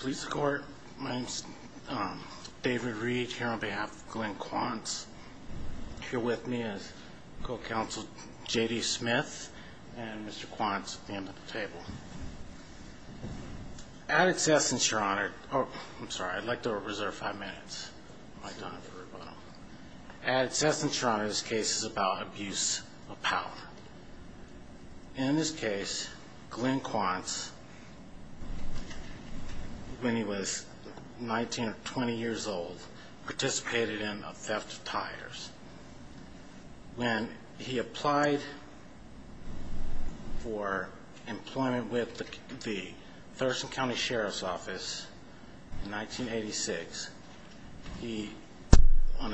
Police Court. My name's David Reed here on behalf of Glenn Quantz. Here with me is co-counsel JD Smith and Mr. Quantz at the end of the table. At its essence, your honor, oh I'm sorry I'd like to reserve five minutes. At its essence, your honor, this when he was 19 or 20 years old, participated in a theft of tires. When he applied for employment with the Thurston County Sheriff's Office in 1986, he, on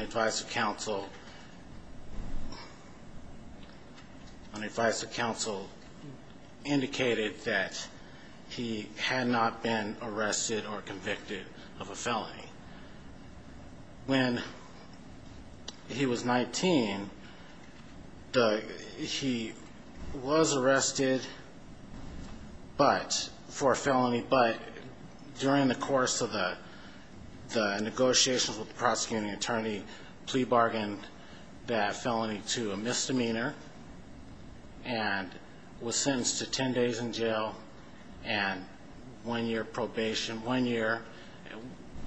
convicted of a felony. When he was 19, he was arrested for a felony, but during the course of the negotiations with the prosecuting attorney, plea bargained that felony to a misdemeanor and was sentenced to 10 days in jail and one year probation, one year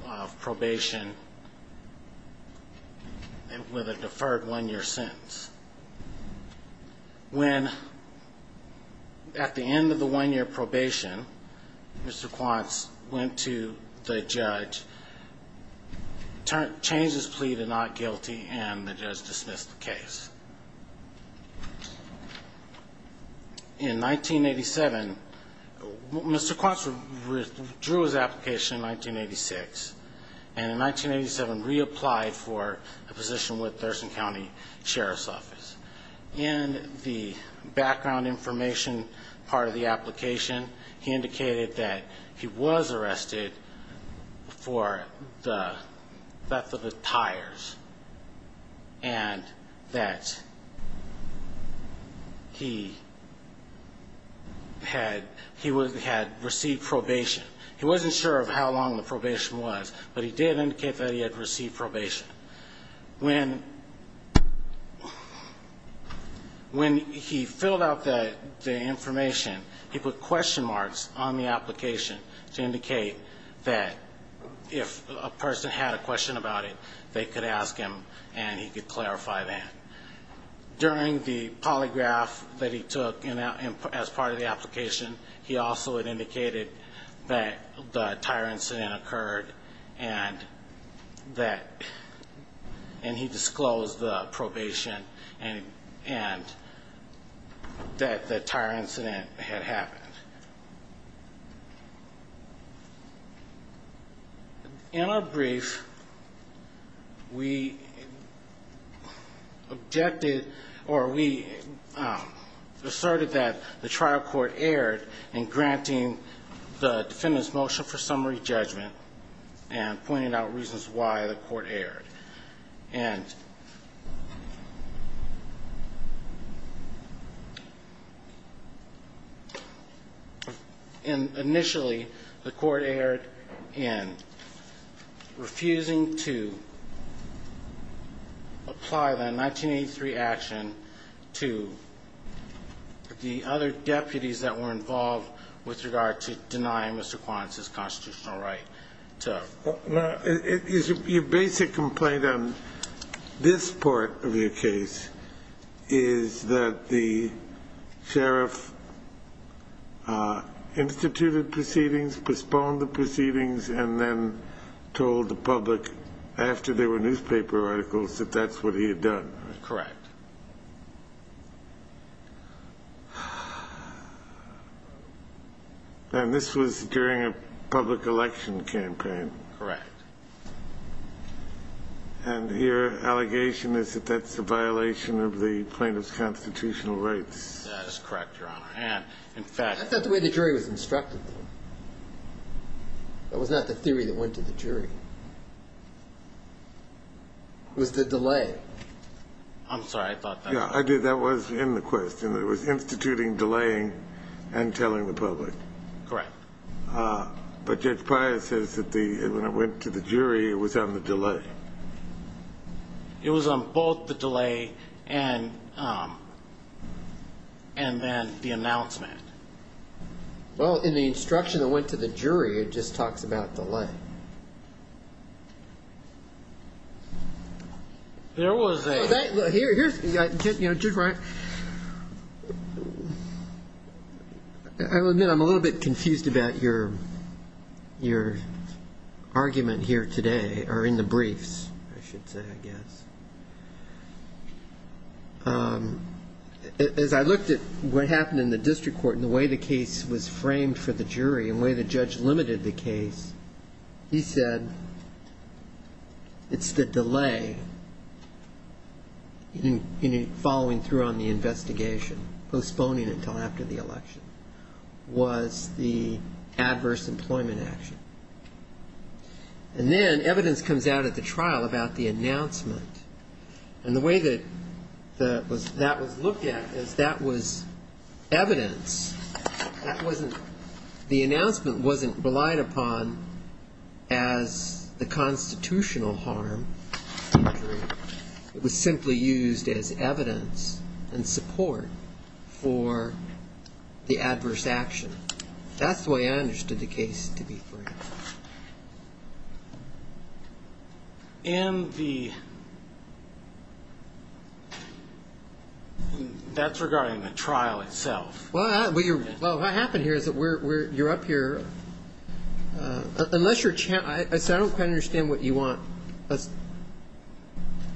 of probation and with a deferred one-year sentence. When, at the end of the one-year probation, Mr. Quantz went to the judge, changed his plea to not guilty and the judge dismissed the case. In 1987, Mr. drew his application in 1986 and in 1987 reapplied for a position with Thurston County Sheriff's Office. In the background information part of the application, he indicated that he was arrested for the theft of the tires and that he had received probation. He wasn't sure how long the probation was, but he did indicate that he had received probation. When he filled out the information, he put question marks on the application to indicate that if a person had a question about it, they could ask him and he could clarify that. During the polygraph that he took as part of the application, he also had indicated that the tire incident occurred and that and he disclosed the probation and and that the tire incident had happened. In our brief, we objected or we asserted that the trial court erred in granting the defendant's motion for summary judgment and pointed out reasons why the court erred. And initially, the court erred in refusing to apply that 1983 action to the other deputies that were involved with regard to denying Mr. Quantz's constitutional right to Your basic complaint on this part of your case is that the sheriff instituted proceedings, postponed the proceedings, and then told the public after there were newspaper articles that that's what he had done. Correct. And this was during a public election campaign. Correct. And your allegation is that that's a violation of the plaintiff's constitutional rights. That's correct, Your Honor. And in fact- That's not the way the jury was instructed. That was not the theory that went to the jury. It was the delay. I'm sorry, I thought that- Yeah, I did. That was in the question. It was instituting, delaying, and telling the public. Correct. But Judge Pryor says that when it went to the jury, it was on the delay. It was on both the delay and then the announcement. Well, in the instruction that went to the jury, it just talks about delay. There was a- Here's- I'll admit I'm a little bit confused about your argument here today, or in the briefs, I should say, I guess. As I looked at what happened in the district court and the way the case was framed for the jury and the way the judge limited the case, he said it's the delay in following through on the investigation, postponing until after the election, was the adverse employment action. And then evidence comes out at the trial about the announcement. And the way that that was looked at is that was evidence. The announcement wasn't relied upon as the constitutional harm to the jury. It was simply used as evidence and support for the adverse action. That's the way I understood the case to be framed. In the- that's regarding the trial itself. Well, what happened here is that you're up here- unless you're- I don't quite understand what you want us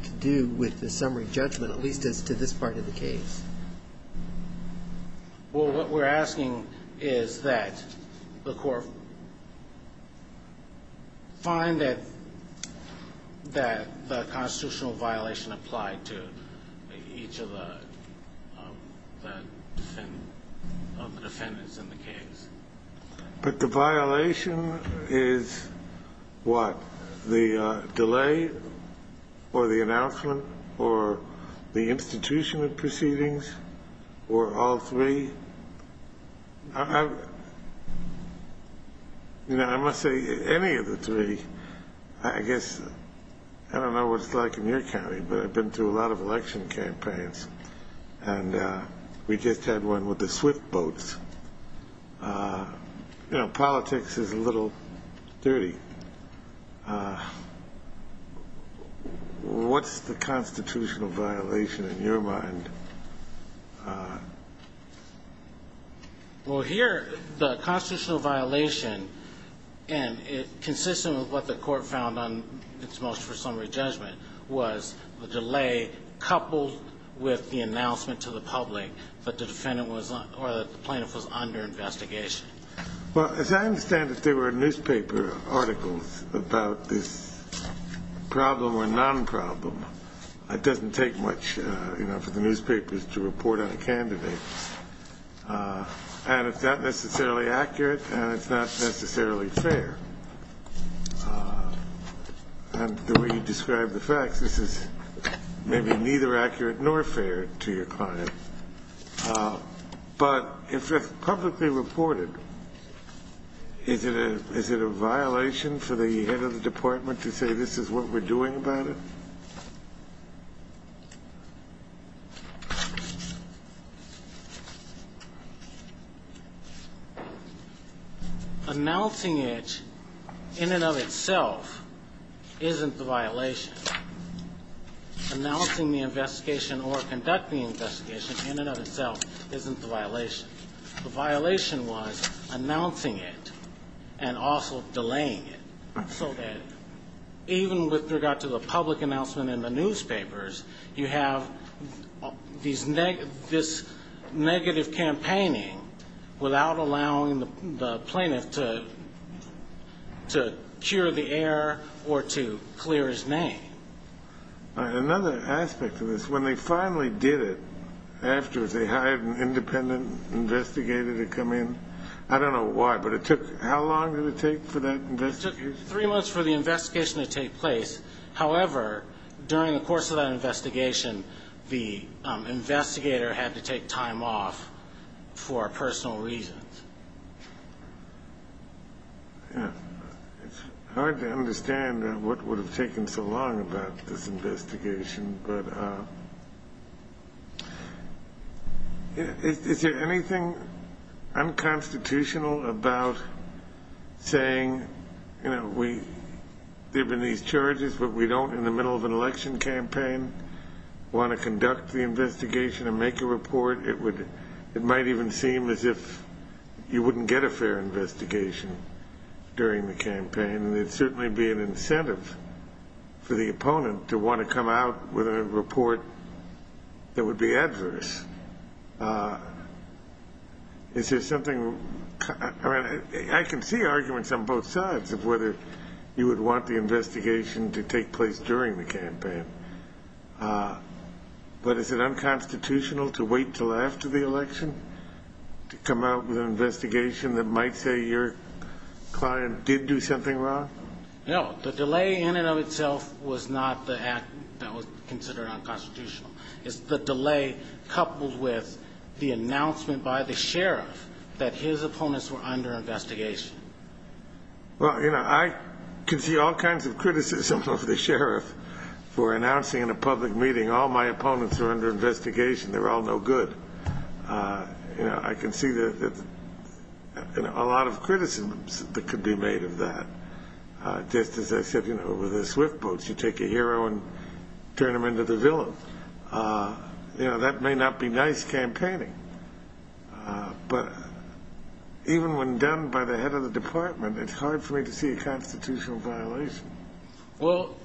to do with the summary judgment, at least as to this part of the case. Well, what we're asking is that the court find that the constitutional violation applied to each of the defendants in the case. But the violation is what? The delay or the announcement or the institutional proceedings or all three? I- I- you know, I must say any of the three, I guess- I don't know what it's like in your county, but I've been through a lot of election campaigns. And we just had one with the swift boats. You know, politics is a little dirty. What's the constitutional violation in your mind? Well, here, the constitutional violation, and it's consistent with what the court found on its motion for summary judgment, was the delay coupled with the announcement to the public that the defendant was- or that the plaintiff was under investigation. Well, as I understand it, there were newspaper articles about this problem or non-problem. It doesn't take much, you know, for the newspapers to report on a candidate. And it's not necessarily accurate, and it's not necessarily fair. And the way you describe the facts, this is maybe neither accurate nor fair to your client. But if it's publicly reported, is it a- is it a violation for the head of the department to say this is what we're doing about it? Announcing it in and of itself isn't the violation. Announcing the investigation or conducting the investigation in and of itself isn't the violation. The violation was announcing it and also delaying it so that even with regard to the public announcement in the newspapers, you have this negative campaigning without allowing the plaintiff to cure the air or to clear his name. Another aspect of this, when they finally did it afterwards, they hired an independent investigator to come in. I don't know why, but it took- how long did it take for that- It took three months for the investigation to take place. However, during the course of that investigation, the investigator had to take time off for personal reasons. Yeah. It's hard to understand what would have taken so long about this investigation. But is there anything unconstitutional about saying, you know, we- there have been these charges, but we don't in the middle of an election campaign want to conduct the investigation and make a report? It might even seem as if you wouldn't get a fair investigation during the campaign, and it'd certainly be an incentive for the opponent to want to come out with a report that would be adverse. Is there something- I mean, I can see arguments on both sides of whether you would want the investigation to take place during the campaign. But is it unconstitutional to wait until after the election to come out with an investigation that might say your client did do something wrong? No. The delay in and of itself was not the act that was considered unconstitutional. It's the delay coupled with the announcement by the sheriff that his opponents were under investigation. Well, you know, I can see all kinds of criticism of the sheriff for announcing in a public meeting, all my opponents are under investigation, they're all no good. You know, I can see a lot of criticisms that could be made of that. Just as I said, you know, with the swift boats, you take a hero and turn him into the villain. You know, that may not be nice campaigning, but even when done by the head of the department, it's hard for me to see a constitutional violation. Well,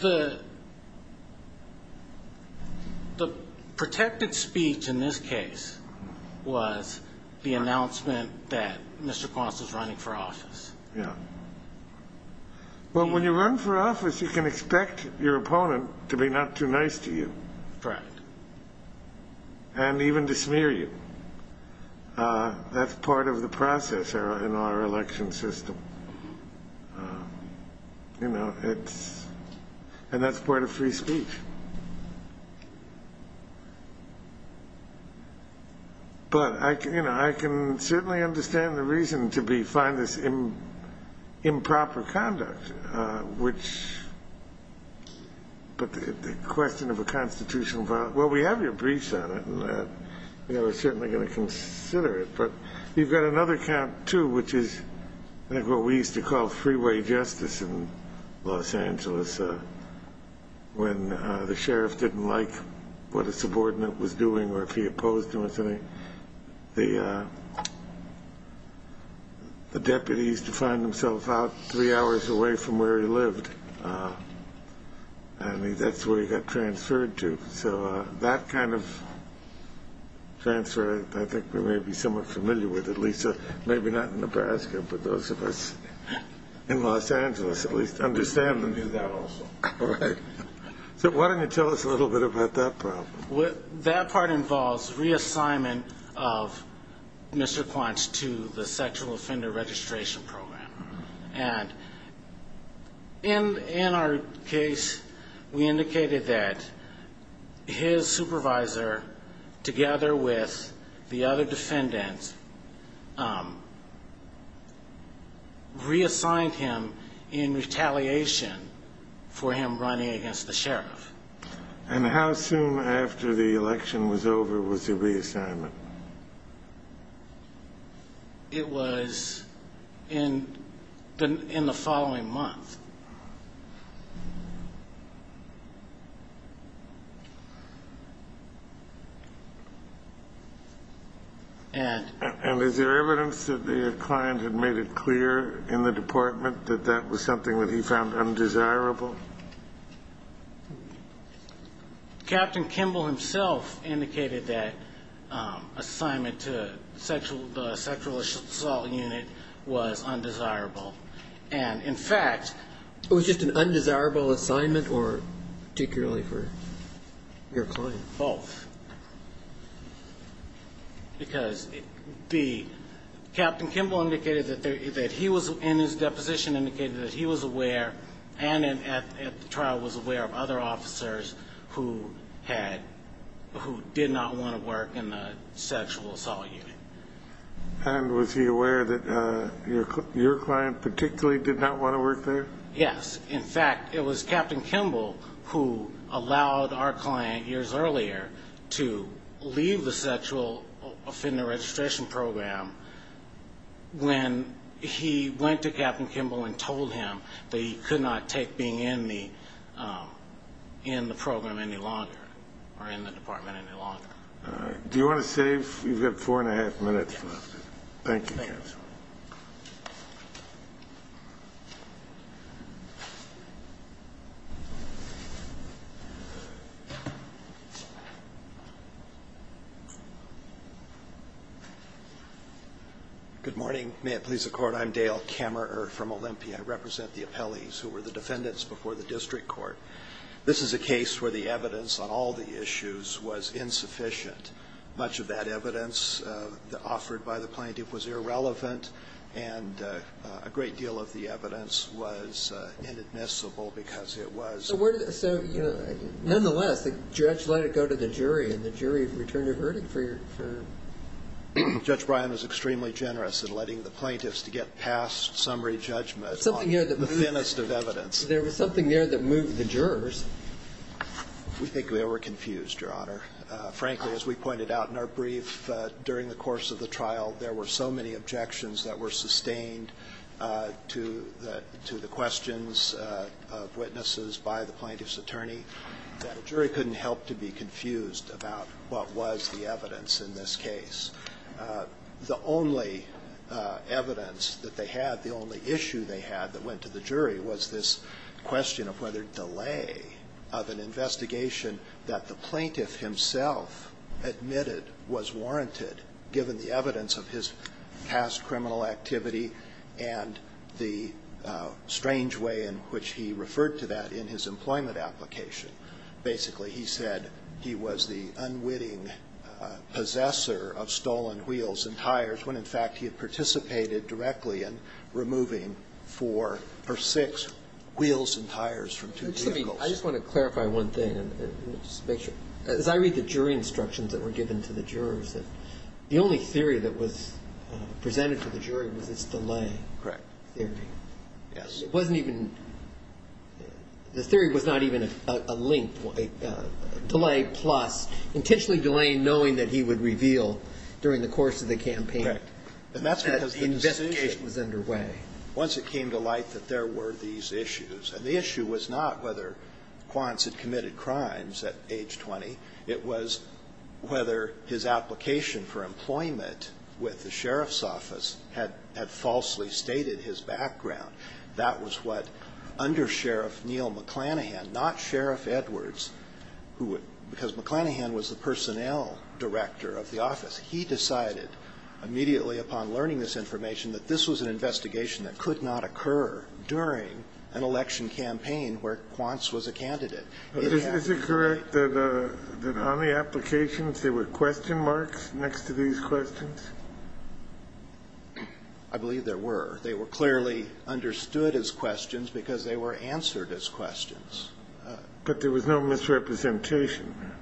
the protected speech in this case was the announcement that Mr. Cross was running for office. Yeah. Well, when you run for office, you can expect your opponent to be not too nice to you. Correct. And even to smear you. That's part of the process in our election system. You know, it's and that's part of free speech. But, you know, I can certainly understand the reason to be find this improper conduct, which. But the question of a constitutional vote. Well, we have your briefs on it. We're certainly going to consider it. But you've got another count, too, which is what we used to call freeway justice in Los Angeles. When the sheriff didn't like what a subordinate was doing or if he opposed to anything, the. The deputies to find themselves out three hours away from where he lived. And that's where he got transferred to. So that kind of transfer, I think we may be somewhat familiar with at least maybe not in Nebraska. But those of us in Los Angeles at least understand that. So why don't you tell us a little bit about that problem? That part involves reassignment of Mr. Quench to the sexual offender registration program. And in our case, we indicated that his supervisor, together with the other defendants. Reassigned him in retaliation for him running against the sheriff. And how soon after the election was over was the reassignment? It was in the in the following month. And is there evidence that the client had made it clear in the department that that was something that he found undesirable? Captain Kimball himself indicated that assignment to the sexual assault unit was undesirable. And in fact. It was just an undesirable assignment or particularly for your client? Both. Because B. Captain Kimball indicated that he was in his deposition indicated that he was aware. And at the trial was aware of other officers who had who did not want to work in the sexual assault unit. And was he aware that your client particularly did not want to work there? Yes. Because, in fact, it was Captain Kimball who allowed our client years earlier to leave the sexual offender registration program. When he went to Captain Kimball and told him that he could not take being in the in the program any longer or in the department any longer. Do you want to save? You've got four and a half minutes left. Thank you. Good morning. May it please the court. I'm Dale camera from Olympia. I represent the appellees who were the defendants before the district court. This is a case where the evidence on all the issues was insufficient. Much of that evidence offered by the plaintiff was irrelevant. And a great deal of the evidence was inadmissible because it was. So, you know, nonetheless, the judge let it go to the jury and the jury returned a verdict for you. Judge Brian was extremely generous in letting the plaintiffs to get past summary judgment. Something here. The thinnest of evidence. There was something there that moved the jurors. We think we were confused, Your Honor. Frankly, as we pointed out in our brief during the course of the trial, there were so many objections that were sustained to the to the questions of witnesses by the plaintiff's attorney that a jury couldn't help to be confused about what was the evidence in this case. The only evidence that they had, the only issue they had that went to the jury, was this question of whether delay of an investigation that the plaintiff himself admitted was warranted, given the evidence of his past criminal activity and the strange way in which he referred to that in his employment application. Basically, he said he was the unwitting possessor of stolen wheels and tires when, in fact, he had participated directly in removing four or six wheels and tires from two vehicles. I just want to clarify one thing and just make sure. As I read the jury instructions that were given to the jurors, the only theory that was presented to the jury was this delay theory. Correct. Yes. It wasn't even, the theory was not even a link, delay plus intentionally delaying, knowing that he would reveal during the course of the campaign. Correct. And that's because the investigation was underway. Once it came to light that there were these issues, and the issue was not whether Quance had committed crimes at age 20, it was whether his application for employment with the sheriff's office had falsely stated his background. That was what undersheriff Neal McClanahan, not Sheriff Edwards, because McClanahan was the personnel director of the office. He decided immediately upon learning this information that this was an investigation that could not occur during an election campaign where Quance was a candidate. Is it correct that on the applications there were question marks next to these questions? I believe there were. They were clearly understood as questions because they were answered as questions. But there was no misrepresentation.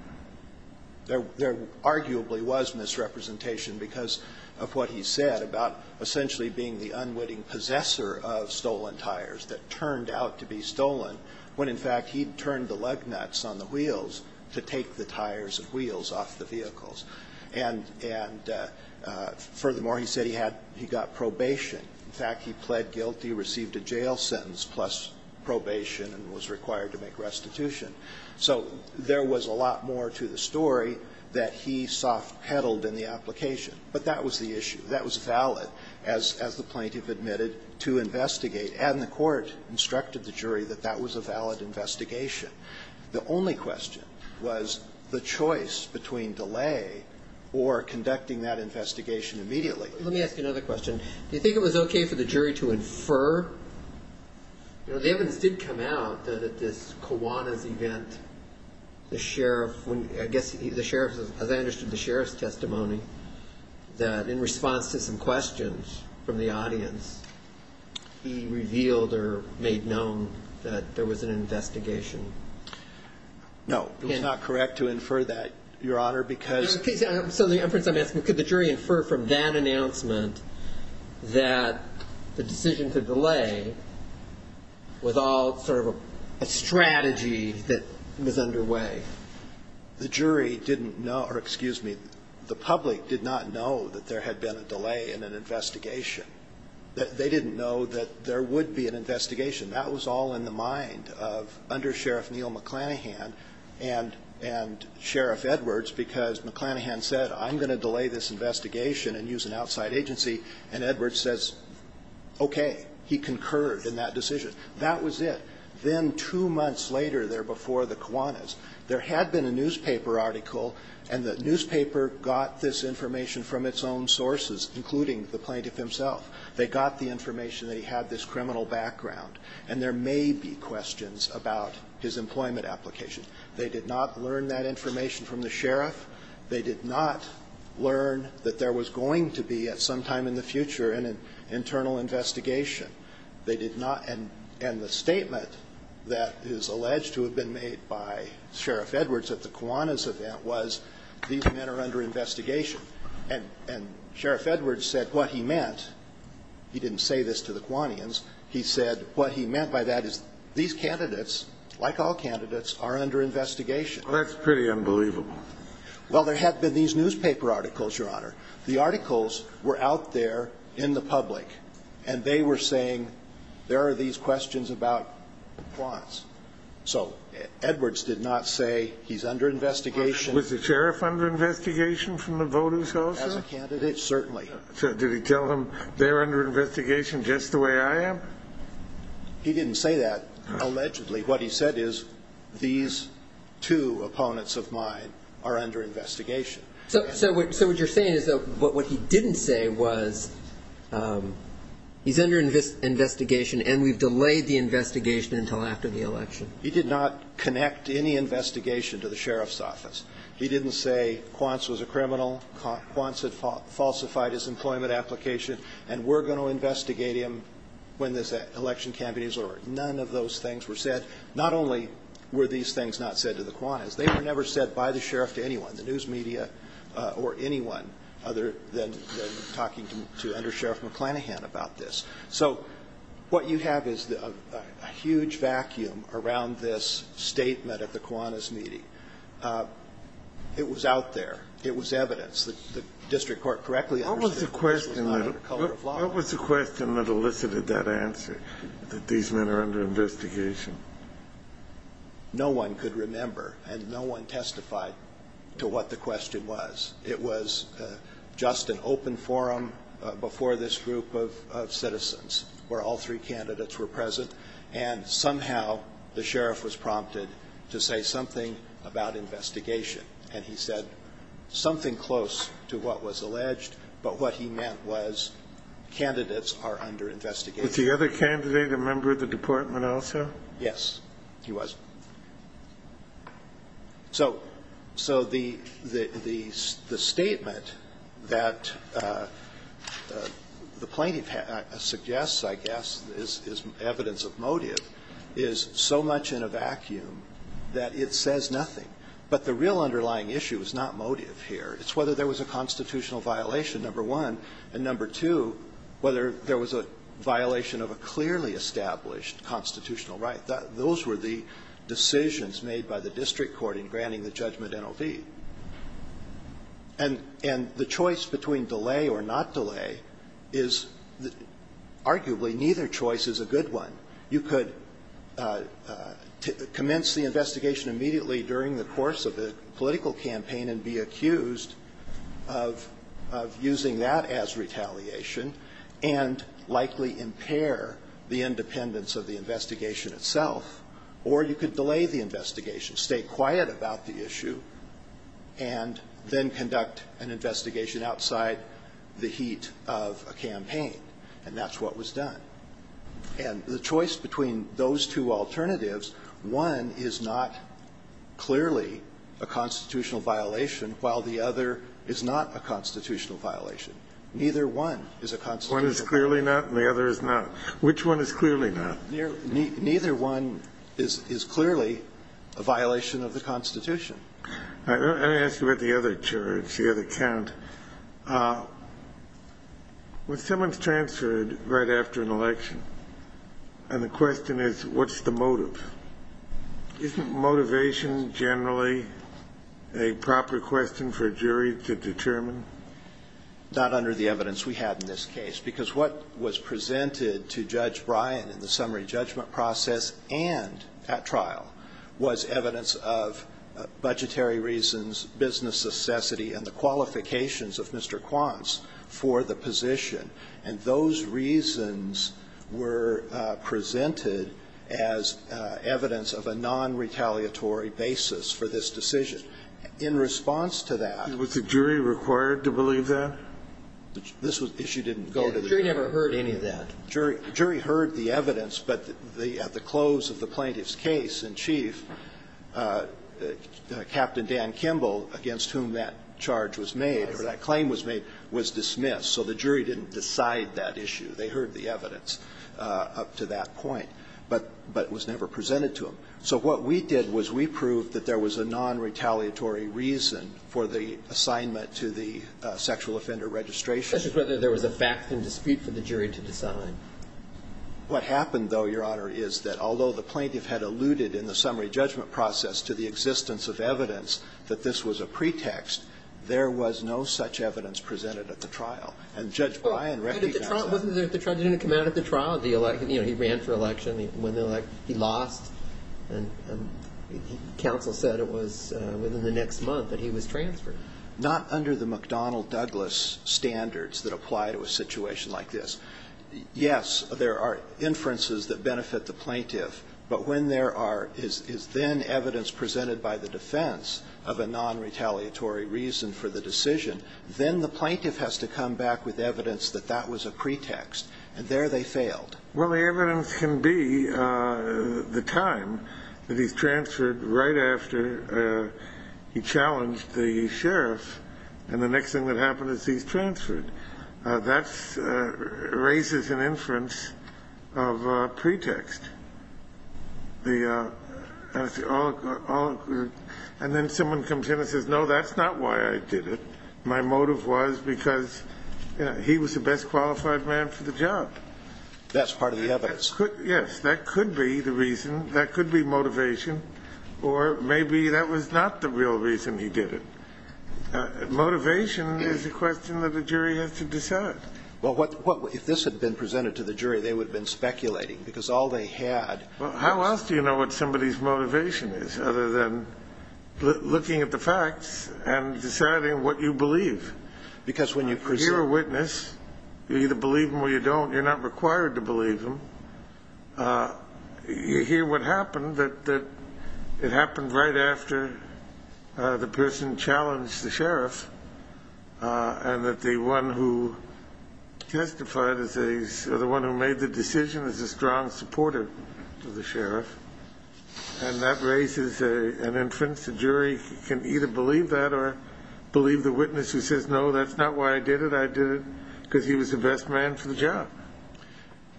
There arguably was misrepresentation because of what he said about essentially being the unwitting possessor of stolen tires that turned out to be stolen when, in fact, he turned the lug nuts on the wheels to take the tires and wheels off the vehicles. And furthermore, he said he had, he got probation. In fact, he pled guilty, received a jail sentence plus probation and was required to make restitution. So there was a lot more to the story that he soft-peddled in the application. But that was the issue. That was valid, as the plaintiff admitted, to investigate. And the court instructed the jury that that was a valid investigation. The only question was the choice between delay or conducting that investigation immediately. Let me ask you another question. Do you think it was okay for the jury to infer? The evidence did come out that at this Kiwanis event, the sheriff, I guess the sheriff, as I understood the sheriff's testimony, that in response to some questions from the audience, he revealed or made known that there was an investigation. No, it was not correct to infer that, Your Honor, because. So the inference I'm asking, could the jury infer from that announcement that the decision to delay was all sort of a strategy that was underway? The jury didn't know, or excuse me, the public did not know that there had been a delay in an investigation. They didn't know that there would be an investigation. That was all in the mind of under Sheriff Neil McClanahan and Sheriff Edwards because McClanahan said, I'm going to delay this investigation and use an outside agency, and Edwards says, okay. He concurred in that decision. That was it. Then two months later there before the Kiwanis, there had been a newspaper article, and the newspaper got this information from its own sources, including the plaintiff himself. They got the information that he had this criminal background, and there may be questions about his employment application. They did not learn that information from the sheriff. They did not learn that there was going to be at some time in the future an internal investigation. They did not, and the statement that is alleged to have been made by Sheriff Edwards at the Kiwanis event was, these men are under investigation. And Sheriff Edwards said what he meant, he didn't say this to the Kiwanians, he said what he meant by that is these candidates, like all candidates, are under investigation. Well, that's pretty unbelievable. Well, there had been these newspaper articles, Your Honor. The articles were out there in the public, and they were saying there are these questions about Kiwanis. So Edwards did not say he's under investigation. Was the sheriff under investigation from the voters also? As a candidate, certainly. So did he tell them they're under investigation just the way I am? He didn't say that, allegedly. What he said is these two opponents of mine are under investigation. So what you're saying is that what he didn't say was he's under investigation and we've delayed the investigation until after the election. He did not connect any investigation to the sheriff's office. He didn't say Quantz was a criminal, Quantz had falsified his employment application, and we're going to investigate him when this election campaign is over. None of those things were said. Not only were these things not said to the Kiwanis, they were never said by the sheriff to anyone, the news media or anyone other than talking to Under Sheriff McClanahan about this. So what you have is a huge vacuum around this statement at the Kiwanis meeting. It was out there. It was evidence that the district court correctly understood that this was not under color of law. What was the question that elicited that answer, that these men are under investigation? No one could remember, and no one testified to what the question was. It was just an open forum before this group of citizens where all three candidates were present, and somehow the sheriff was prompted to say something about investigation. And he said something close to what was alleged, but what he meant was candidates are under investigation. But the other candidate, a member of the department also? Yes, he was. So the statement that the plaintiff suggests, I guess, is evidence of motive, is so much in a vacuum that it says nothing. But the real underlying issue is not motive here. It's whether there was a constitutional violation, number one, and number two, whether there was a violation of a clearly established constitutional right. Those were the decisions made by the district court in granting the judgment NOV. And the choice between delay or not delay is arguably neither choice is a good one. You could commence the investigation immediately during the course of the political campaign and be accused of using that as retaliation and likely impair the independence of the investigation itself, or you could delay the investigation, stay quiet about the issue, and then conduct an investigation outside the heat of a campaign. And that's what was done. And the choice between those two alternatives, one is not clearly a constitutional violation, while the other is not a constitutional violation. Neither one is a constitutional violation. One is clearly not and the other is not. Which one is clearly not? Neither one is clearly a violation of the Constitution. Let me ask you about the other charge, the other count. When someone's transferred right after an election and the question is what's the motive, isn't motivation generally a proper question for a jury to determine? Not under the evidence we had in this case, because what was presented to Judge Bryan in the summary judgment process and at trial was evidence of budgetary reasons, business necessity, and the qualifications of Mr. Quance for the position. And those reasons were presented as evidence of a nonretaliatory basis for this decision. In response to that the jury required to believe that? This issue didn't go to the jury. The jury never heard any of that. The jury heard the evidence, but at the close of the plaintiff's case in chief, Captain Dan Kimball, against whom that charge was made, or that claim was made, was dismissed. So the jury didn't decide that issue. They heard the evidence up to that point, but it was never presented to them. So what we did was we proved that there was a nonretaliatory reason for the assignment to the sexual offender registration. Especially whether there was a fact and dispute for the jury to decide. What happened, though, Your Honor, is that although the plaintiff had alluded in the summary judgment process to the existence of evidence that this was a pretext, there was no such evidence presented at the trial. And Judge Bryan recognized that. But the trial didn't come out at the trial. He ran for election. He lost. And counsel said it was within the next month that he was transferred. Not under the McDonnell Douglas standards that apply to a situation like this. Yes, there are inferences that benefit the plaintiff. But when there is then evidence presented by the defense of a nonretaliatory reason for the decision, then the plaintiff has to come back with evidence that that was a pretext. And there they failed. Well, the evidence can be the time that he's transferred right after he challenged the sheriff, and the next thing that happened is he's transferred. That raises an inference of pretext. And then someone comes in and says, no, that's not why I did it. My motive was because he was the best qualified man for the job. That's part of the evidence. Yes. That could be the reason. That could be motivation. Or maybe that was not the real reason he did it. Motivation is a question that a jury has to decide. Well, if this had been presented to the jury, they would have been speculating, because all they had was. Well, how else do you know what somebody's motivation is other than looking at the facts and deciding what you believe? Because when you presume. You're a witness. You either believe him or you don't. You're not required to believe him. You hear what happened, that it happened right after the person challenged the sheriff, and that the one who testified or the one who made the decision is a strong supporter of the sheriff. And that raises an inference. A jury can either believe that or believe the witness who says, no, that's not why I did it. I did it because he was the best man for the job.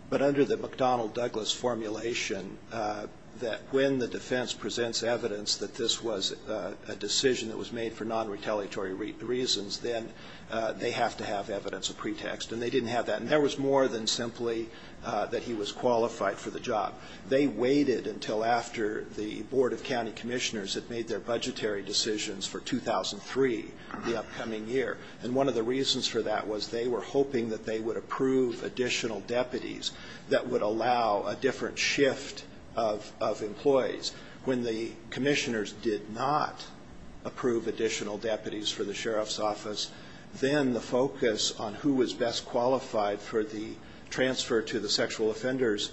But under the McDonnell-Douglas formulation, that when the defense presents evidence that this was a decision that was made for non-retaliatory reasons, then they have to have evidence of pretext. And they didn't have that. And there was more than simply that he was qualified for the job. They waited until after the Board of County Commissioners had made their budgetary decisions for 2003, the upcoming year. And one of the reasons for that was they were hoping that they would approve additional deputies that would allow a different shift of employees. When the commissioners did not approve additional deputies for the sheriff's office, then the focus on who was best qualified for the transfer to the sexual offender's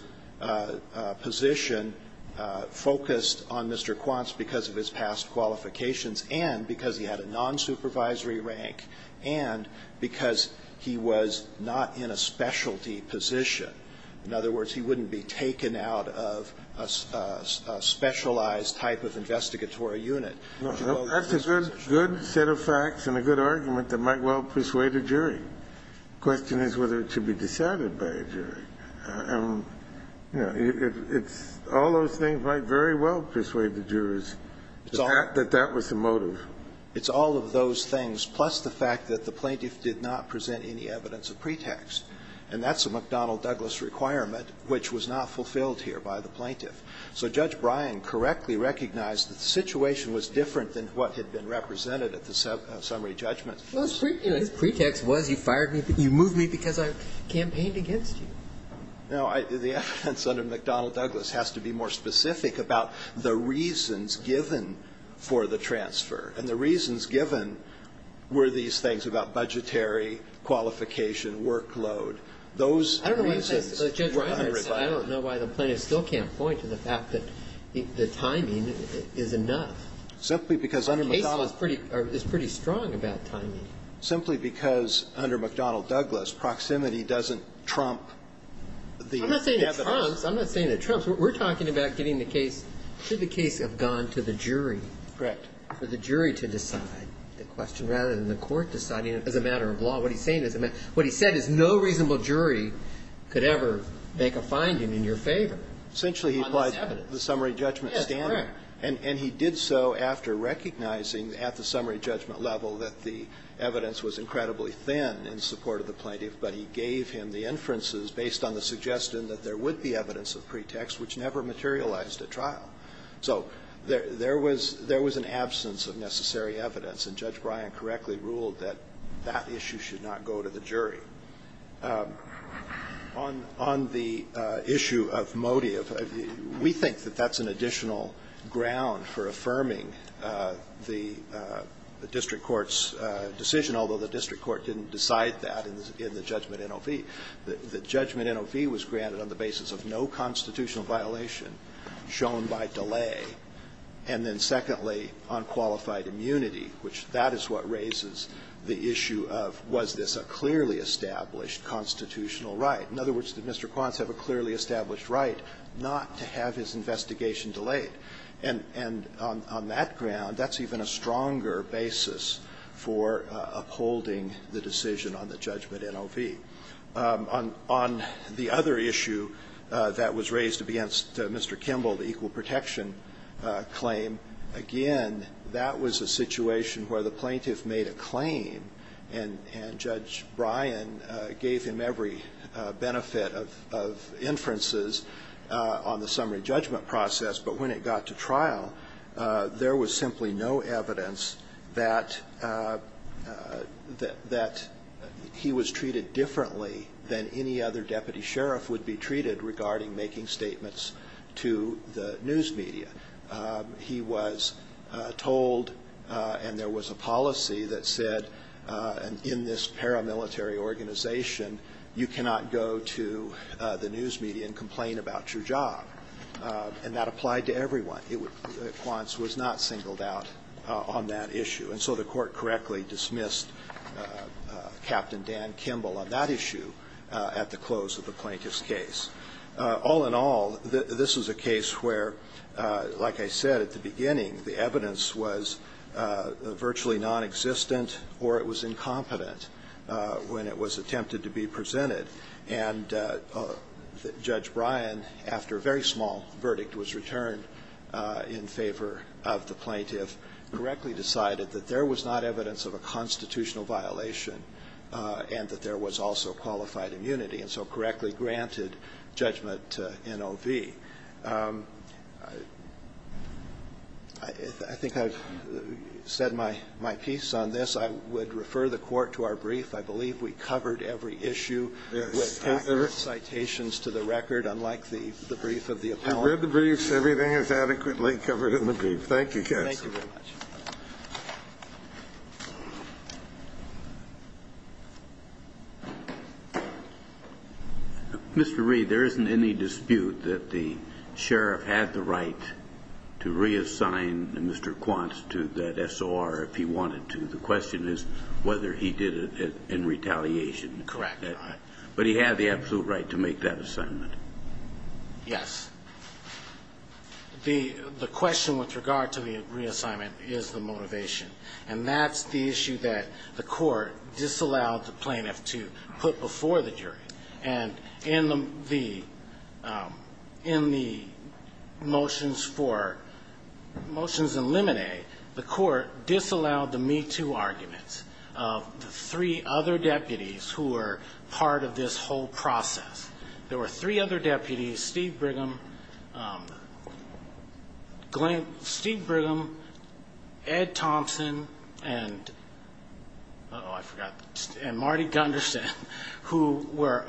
position focused on Mr. Quance because of his past qualifications and because he had a nonsupervisory rank and because he was not in a specialty position. In other words, he wouldn't be taken out of a specialized type of investigatory unit. That's a good set of facts and a good argument that might well persuade a jury. The question is whether it should be decided by a jury. And, you know, it's all those things might very well persuade the jurors that that was the motive. It's all of those things plus the fact that the plaintiff did not present any evidence of pretext. And that's a McDonnell Douglas requirement which was not fulfilled here by the plaintiff. So Judge Bryan correctly recognized that the situation was different than what had been represented at the summary judgment. Well, his pretext was you fired me, you moved me because I campaigned against you. No, the evidence under McDonnell Douglas has to be more specific about the reasons given for the transfer. And the reasons given were these things about budgetary, qualification, Those reasons were unrefined. I don't know why the plaintiff still can't point to the fact that the timing is enough. Simply because under McDonnell Douglas. The case is pretty strong about timing. Simply because under McDonnell Douglas, proximity doesn't trump the evidence. I'm not saying it trumps. I'm not saying it trumps. We're talking about getting the case, should the case have gone to the jury. Correct. For the jury to decide the question rather than the court deciding it as a matter of law. What he said is no reasonable jury could ever make a finding in your favor. Essentially he applied the summary judgment standard. Yes, correct. And he did so after recognizing at the summary judgment level that the evidence was incredibly thin in support of the plaintiff. But he gave him the inferences based on the suggestion that there would be evidence of pretext which never materialized at trial. So there was an absence of necessary evidence. And Judge Bryan correctly ruled that that issue should not go to the jury. On the issue of Modi, we think that that's an additional ground for affirming the district court's decision, although the district court didn't decide that in the judgment NOV. The judgment NOV was granted on the basis of no constitutional violation shown by delay. And then secondly, on qualified immunity, which that is what raises the issue of was this a clearly established constitutional right. In other words, did Mr. Quance have a clearly established right not to have his investigation delayed? And on that ground, that's even a stronger basis for upholding the decision on the judgment NOV. On the other issue that was raised against Mr. Kimball, the equal protection claim, again, that was a situation where the plaintiff made a claim and Judge Bryan gave him every benefit of inferences on the summary judgment process. But when it got to trial, there was simply no evidence that he was treated differently than any other deputy sheriff would be treated regarding making statements to the news media. He was told, and there was a policy that said, in this paramilitary organization, you cannot go to the news media and complain about your job. And that applied to everyone. Quance was not singled out on that issue. And so the Court correctly dismissed Captain Dan Kimball on that issue at the close of the plaintiff's case. All in all, this is a case where, like I said at the beginning, the evidence was virtually nonexistent or it was incompetent when it was attempted to be presented. And Judge Bryan, after a very small verdict was returned in favor of the plaintiff, correctly decided that there was not evidence of a constitutional violation and that there was also qualified immunity, and so correctly granted judgment to NOV. I think I've said my piece on this. I would refer the Court to our brief. I believe we covered every issue with citations to the record, unlike the brief of the appellant. I read the brief. Everything is adequately covered in the brief. Thank you, counsel. Thank you very much. Mr. Reed, there isn't any dispute that the sheriff had the right to reassign Mr. Quance to that SOR if he wanted to. The question is whether he did it in retaliation. Correct. But he had the absolute right to make that assignment. Yes. The question with regard to the reassignment is the motivation. And that's the issue that the Court disallowed the plaintiff to put before the jury. And in the motions for motions in limine, the Court disallowed the me-too arguments of the three other deputies who were part of this whole process. There were three other deputies, Steve Brigham, Ed Thompson, and Marty Gunderson, who were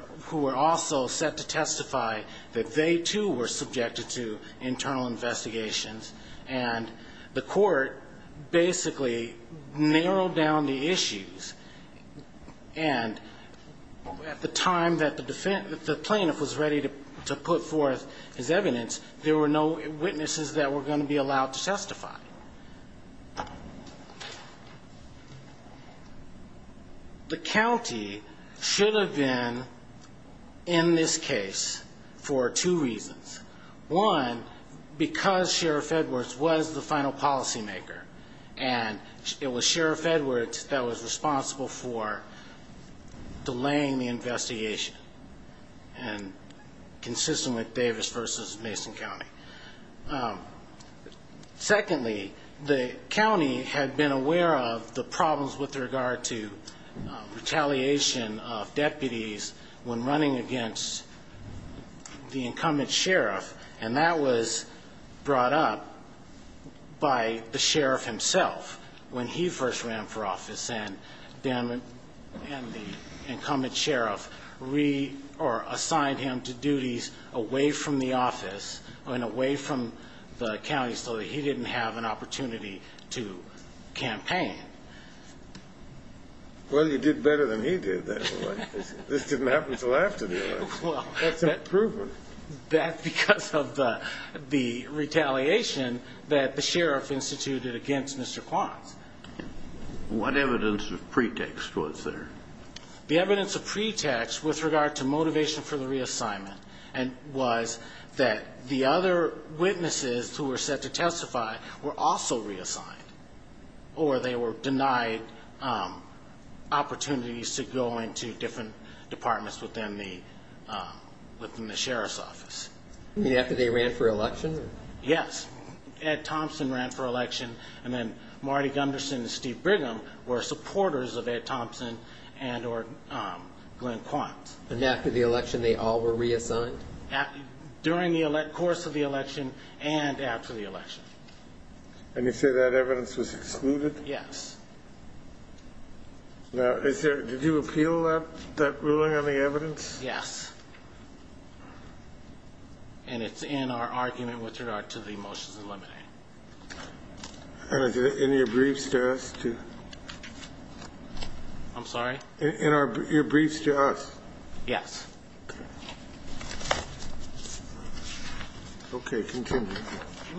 also set to testify that they, too, were subjected to internal investigations. And the Court basically narrowed down the issues. And at the time that the plaintiff was ready to put forth his evidence, there were no witnesses that were going to be allowed to testify. The county should have been in this case for two reasons. One, because Sheriff Edwards was the final policymaker, and it was Sheriff Edwards that was responsible for delaying the investigation and consistent with Davis v. Mason County. Secondly, the county had been aware of the problems with regard to retaliation of deputies when running against the incumbent sheriff, and that was brought up by the sheriff himself when he first ran for office and the incumbent sheriff assigned him to duties away from the office and away from the county so that he didn't have an opportunity to campaign. Well, you did better than he did then. This didn't happen until after the election. That's an improvement. That's because of the retaliation that the sheriff instituted against Mr. Quons. What evidence of pretext was there? The evidence of pretext with regard to motivation for the reassignment was that the other witnesses who were set to testify were also reassigned, or they were denied opportunities to go into different departments within the sheriff's office. You mean after they ran for election? Yes. Ed Thompson ran for election, and then Marty Gunderson and Steve Brigham were supporters of Ed Thompson and or Glenn Quons. And after the election, they all were reassigned? During the course of the election and after the election. And you say that evidence was excluded? Yes. Now, did you appeal that ruling on the evidence? Yes. And it's in our argument with regard to the motions eliminating. And is it in your briefs to us? I'm sorry? In your briefs to us? Yes. Okay. Okay, continue.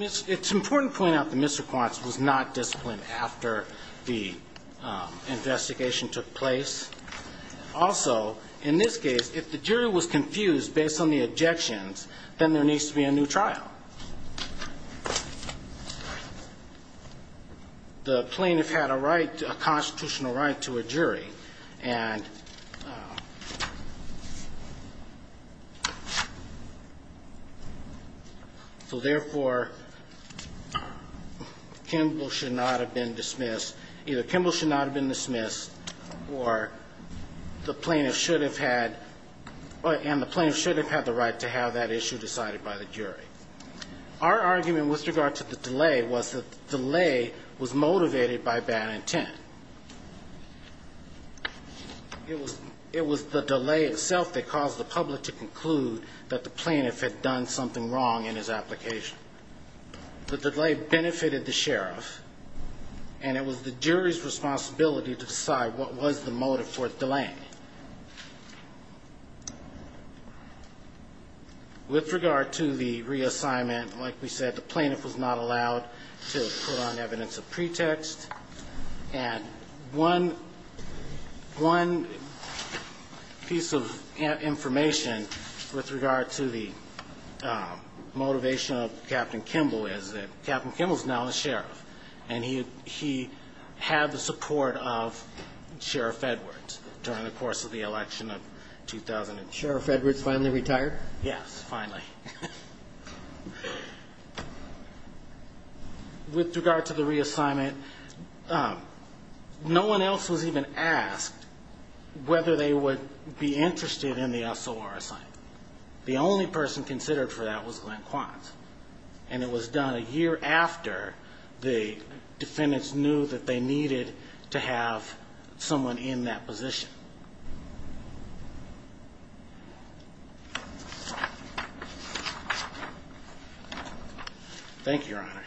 It's important to point out that Mr. Quons was not disciplined after the investigation took place. Also, in this case, if the jury was confused based on the objections, then there needs to be a new trial. The plaintiff had a right, a constitutional right to a jury. And so, therefore, Kimball should not have been dismissed. Either Kimball should not have been dismissed or the plaintiff should have had the right to have that issue decided by the jury. Our argument with regard to the delay was that the delay was motivated by bad intent. It was the delay itself that caused the public to conclude that the plaintiff had done something wrong in his application. The delay benefited the sheriff, and it was the jury's responsibility to decide what was the motive for delaying it. With regard to the reassignment, like we said, the plaintiff was not allowed to put on evidence of pretext And one piece of information with regard to the motivation of Captain Kimball is that Captain Kimball is now the sheriff, and he had the support of Sheriff Edwards during the course of the election of 2008. Sheriff Edwards finally retired? Yes, finally. With regard to the reassignment, no one else was even asked whether they would be interested in the SOR assignment. The only person considered for that was Glenn Quantz, and it was done a year after the defendants knew that they needed to have someone in that position. Thank you, Your Honor.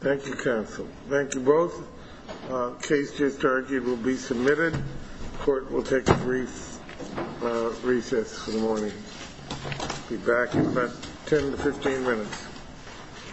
Thank you, counsel. Thank you both. Case just argued will be submitted. Court will take a brief recess for the morning. Be back in about 10 to 15 minutes.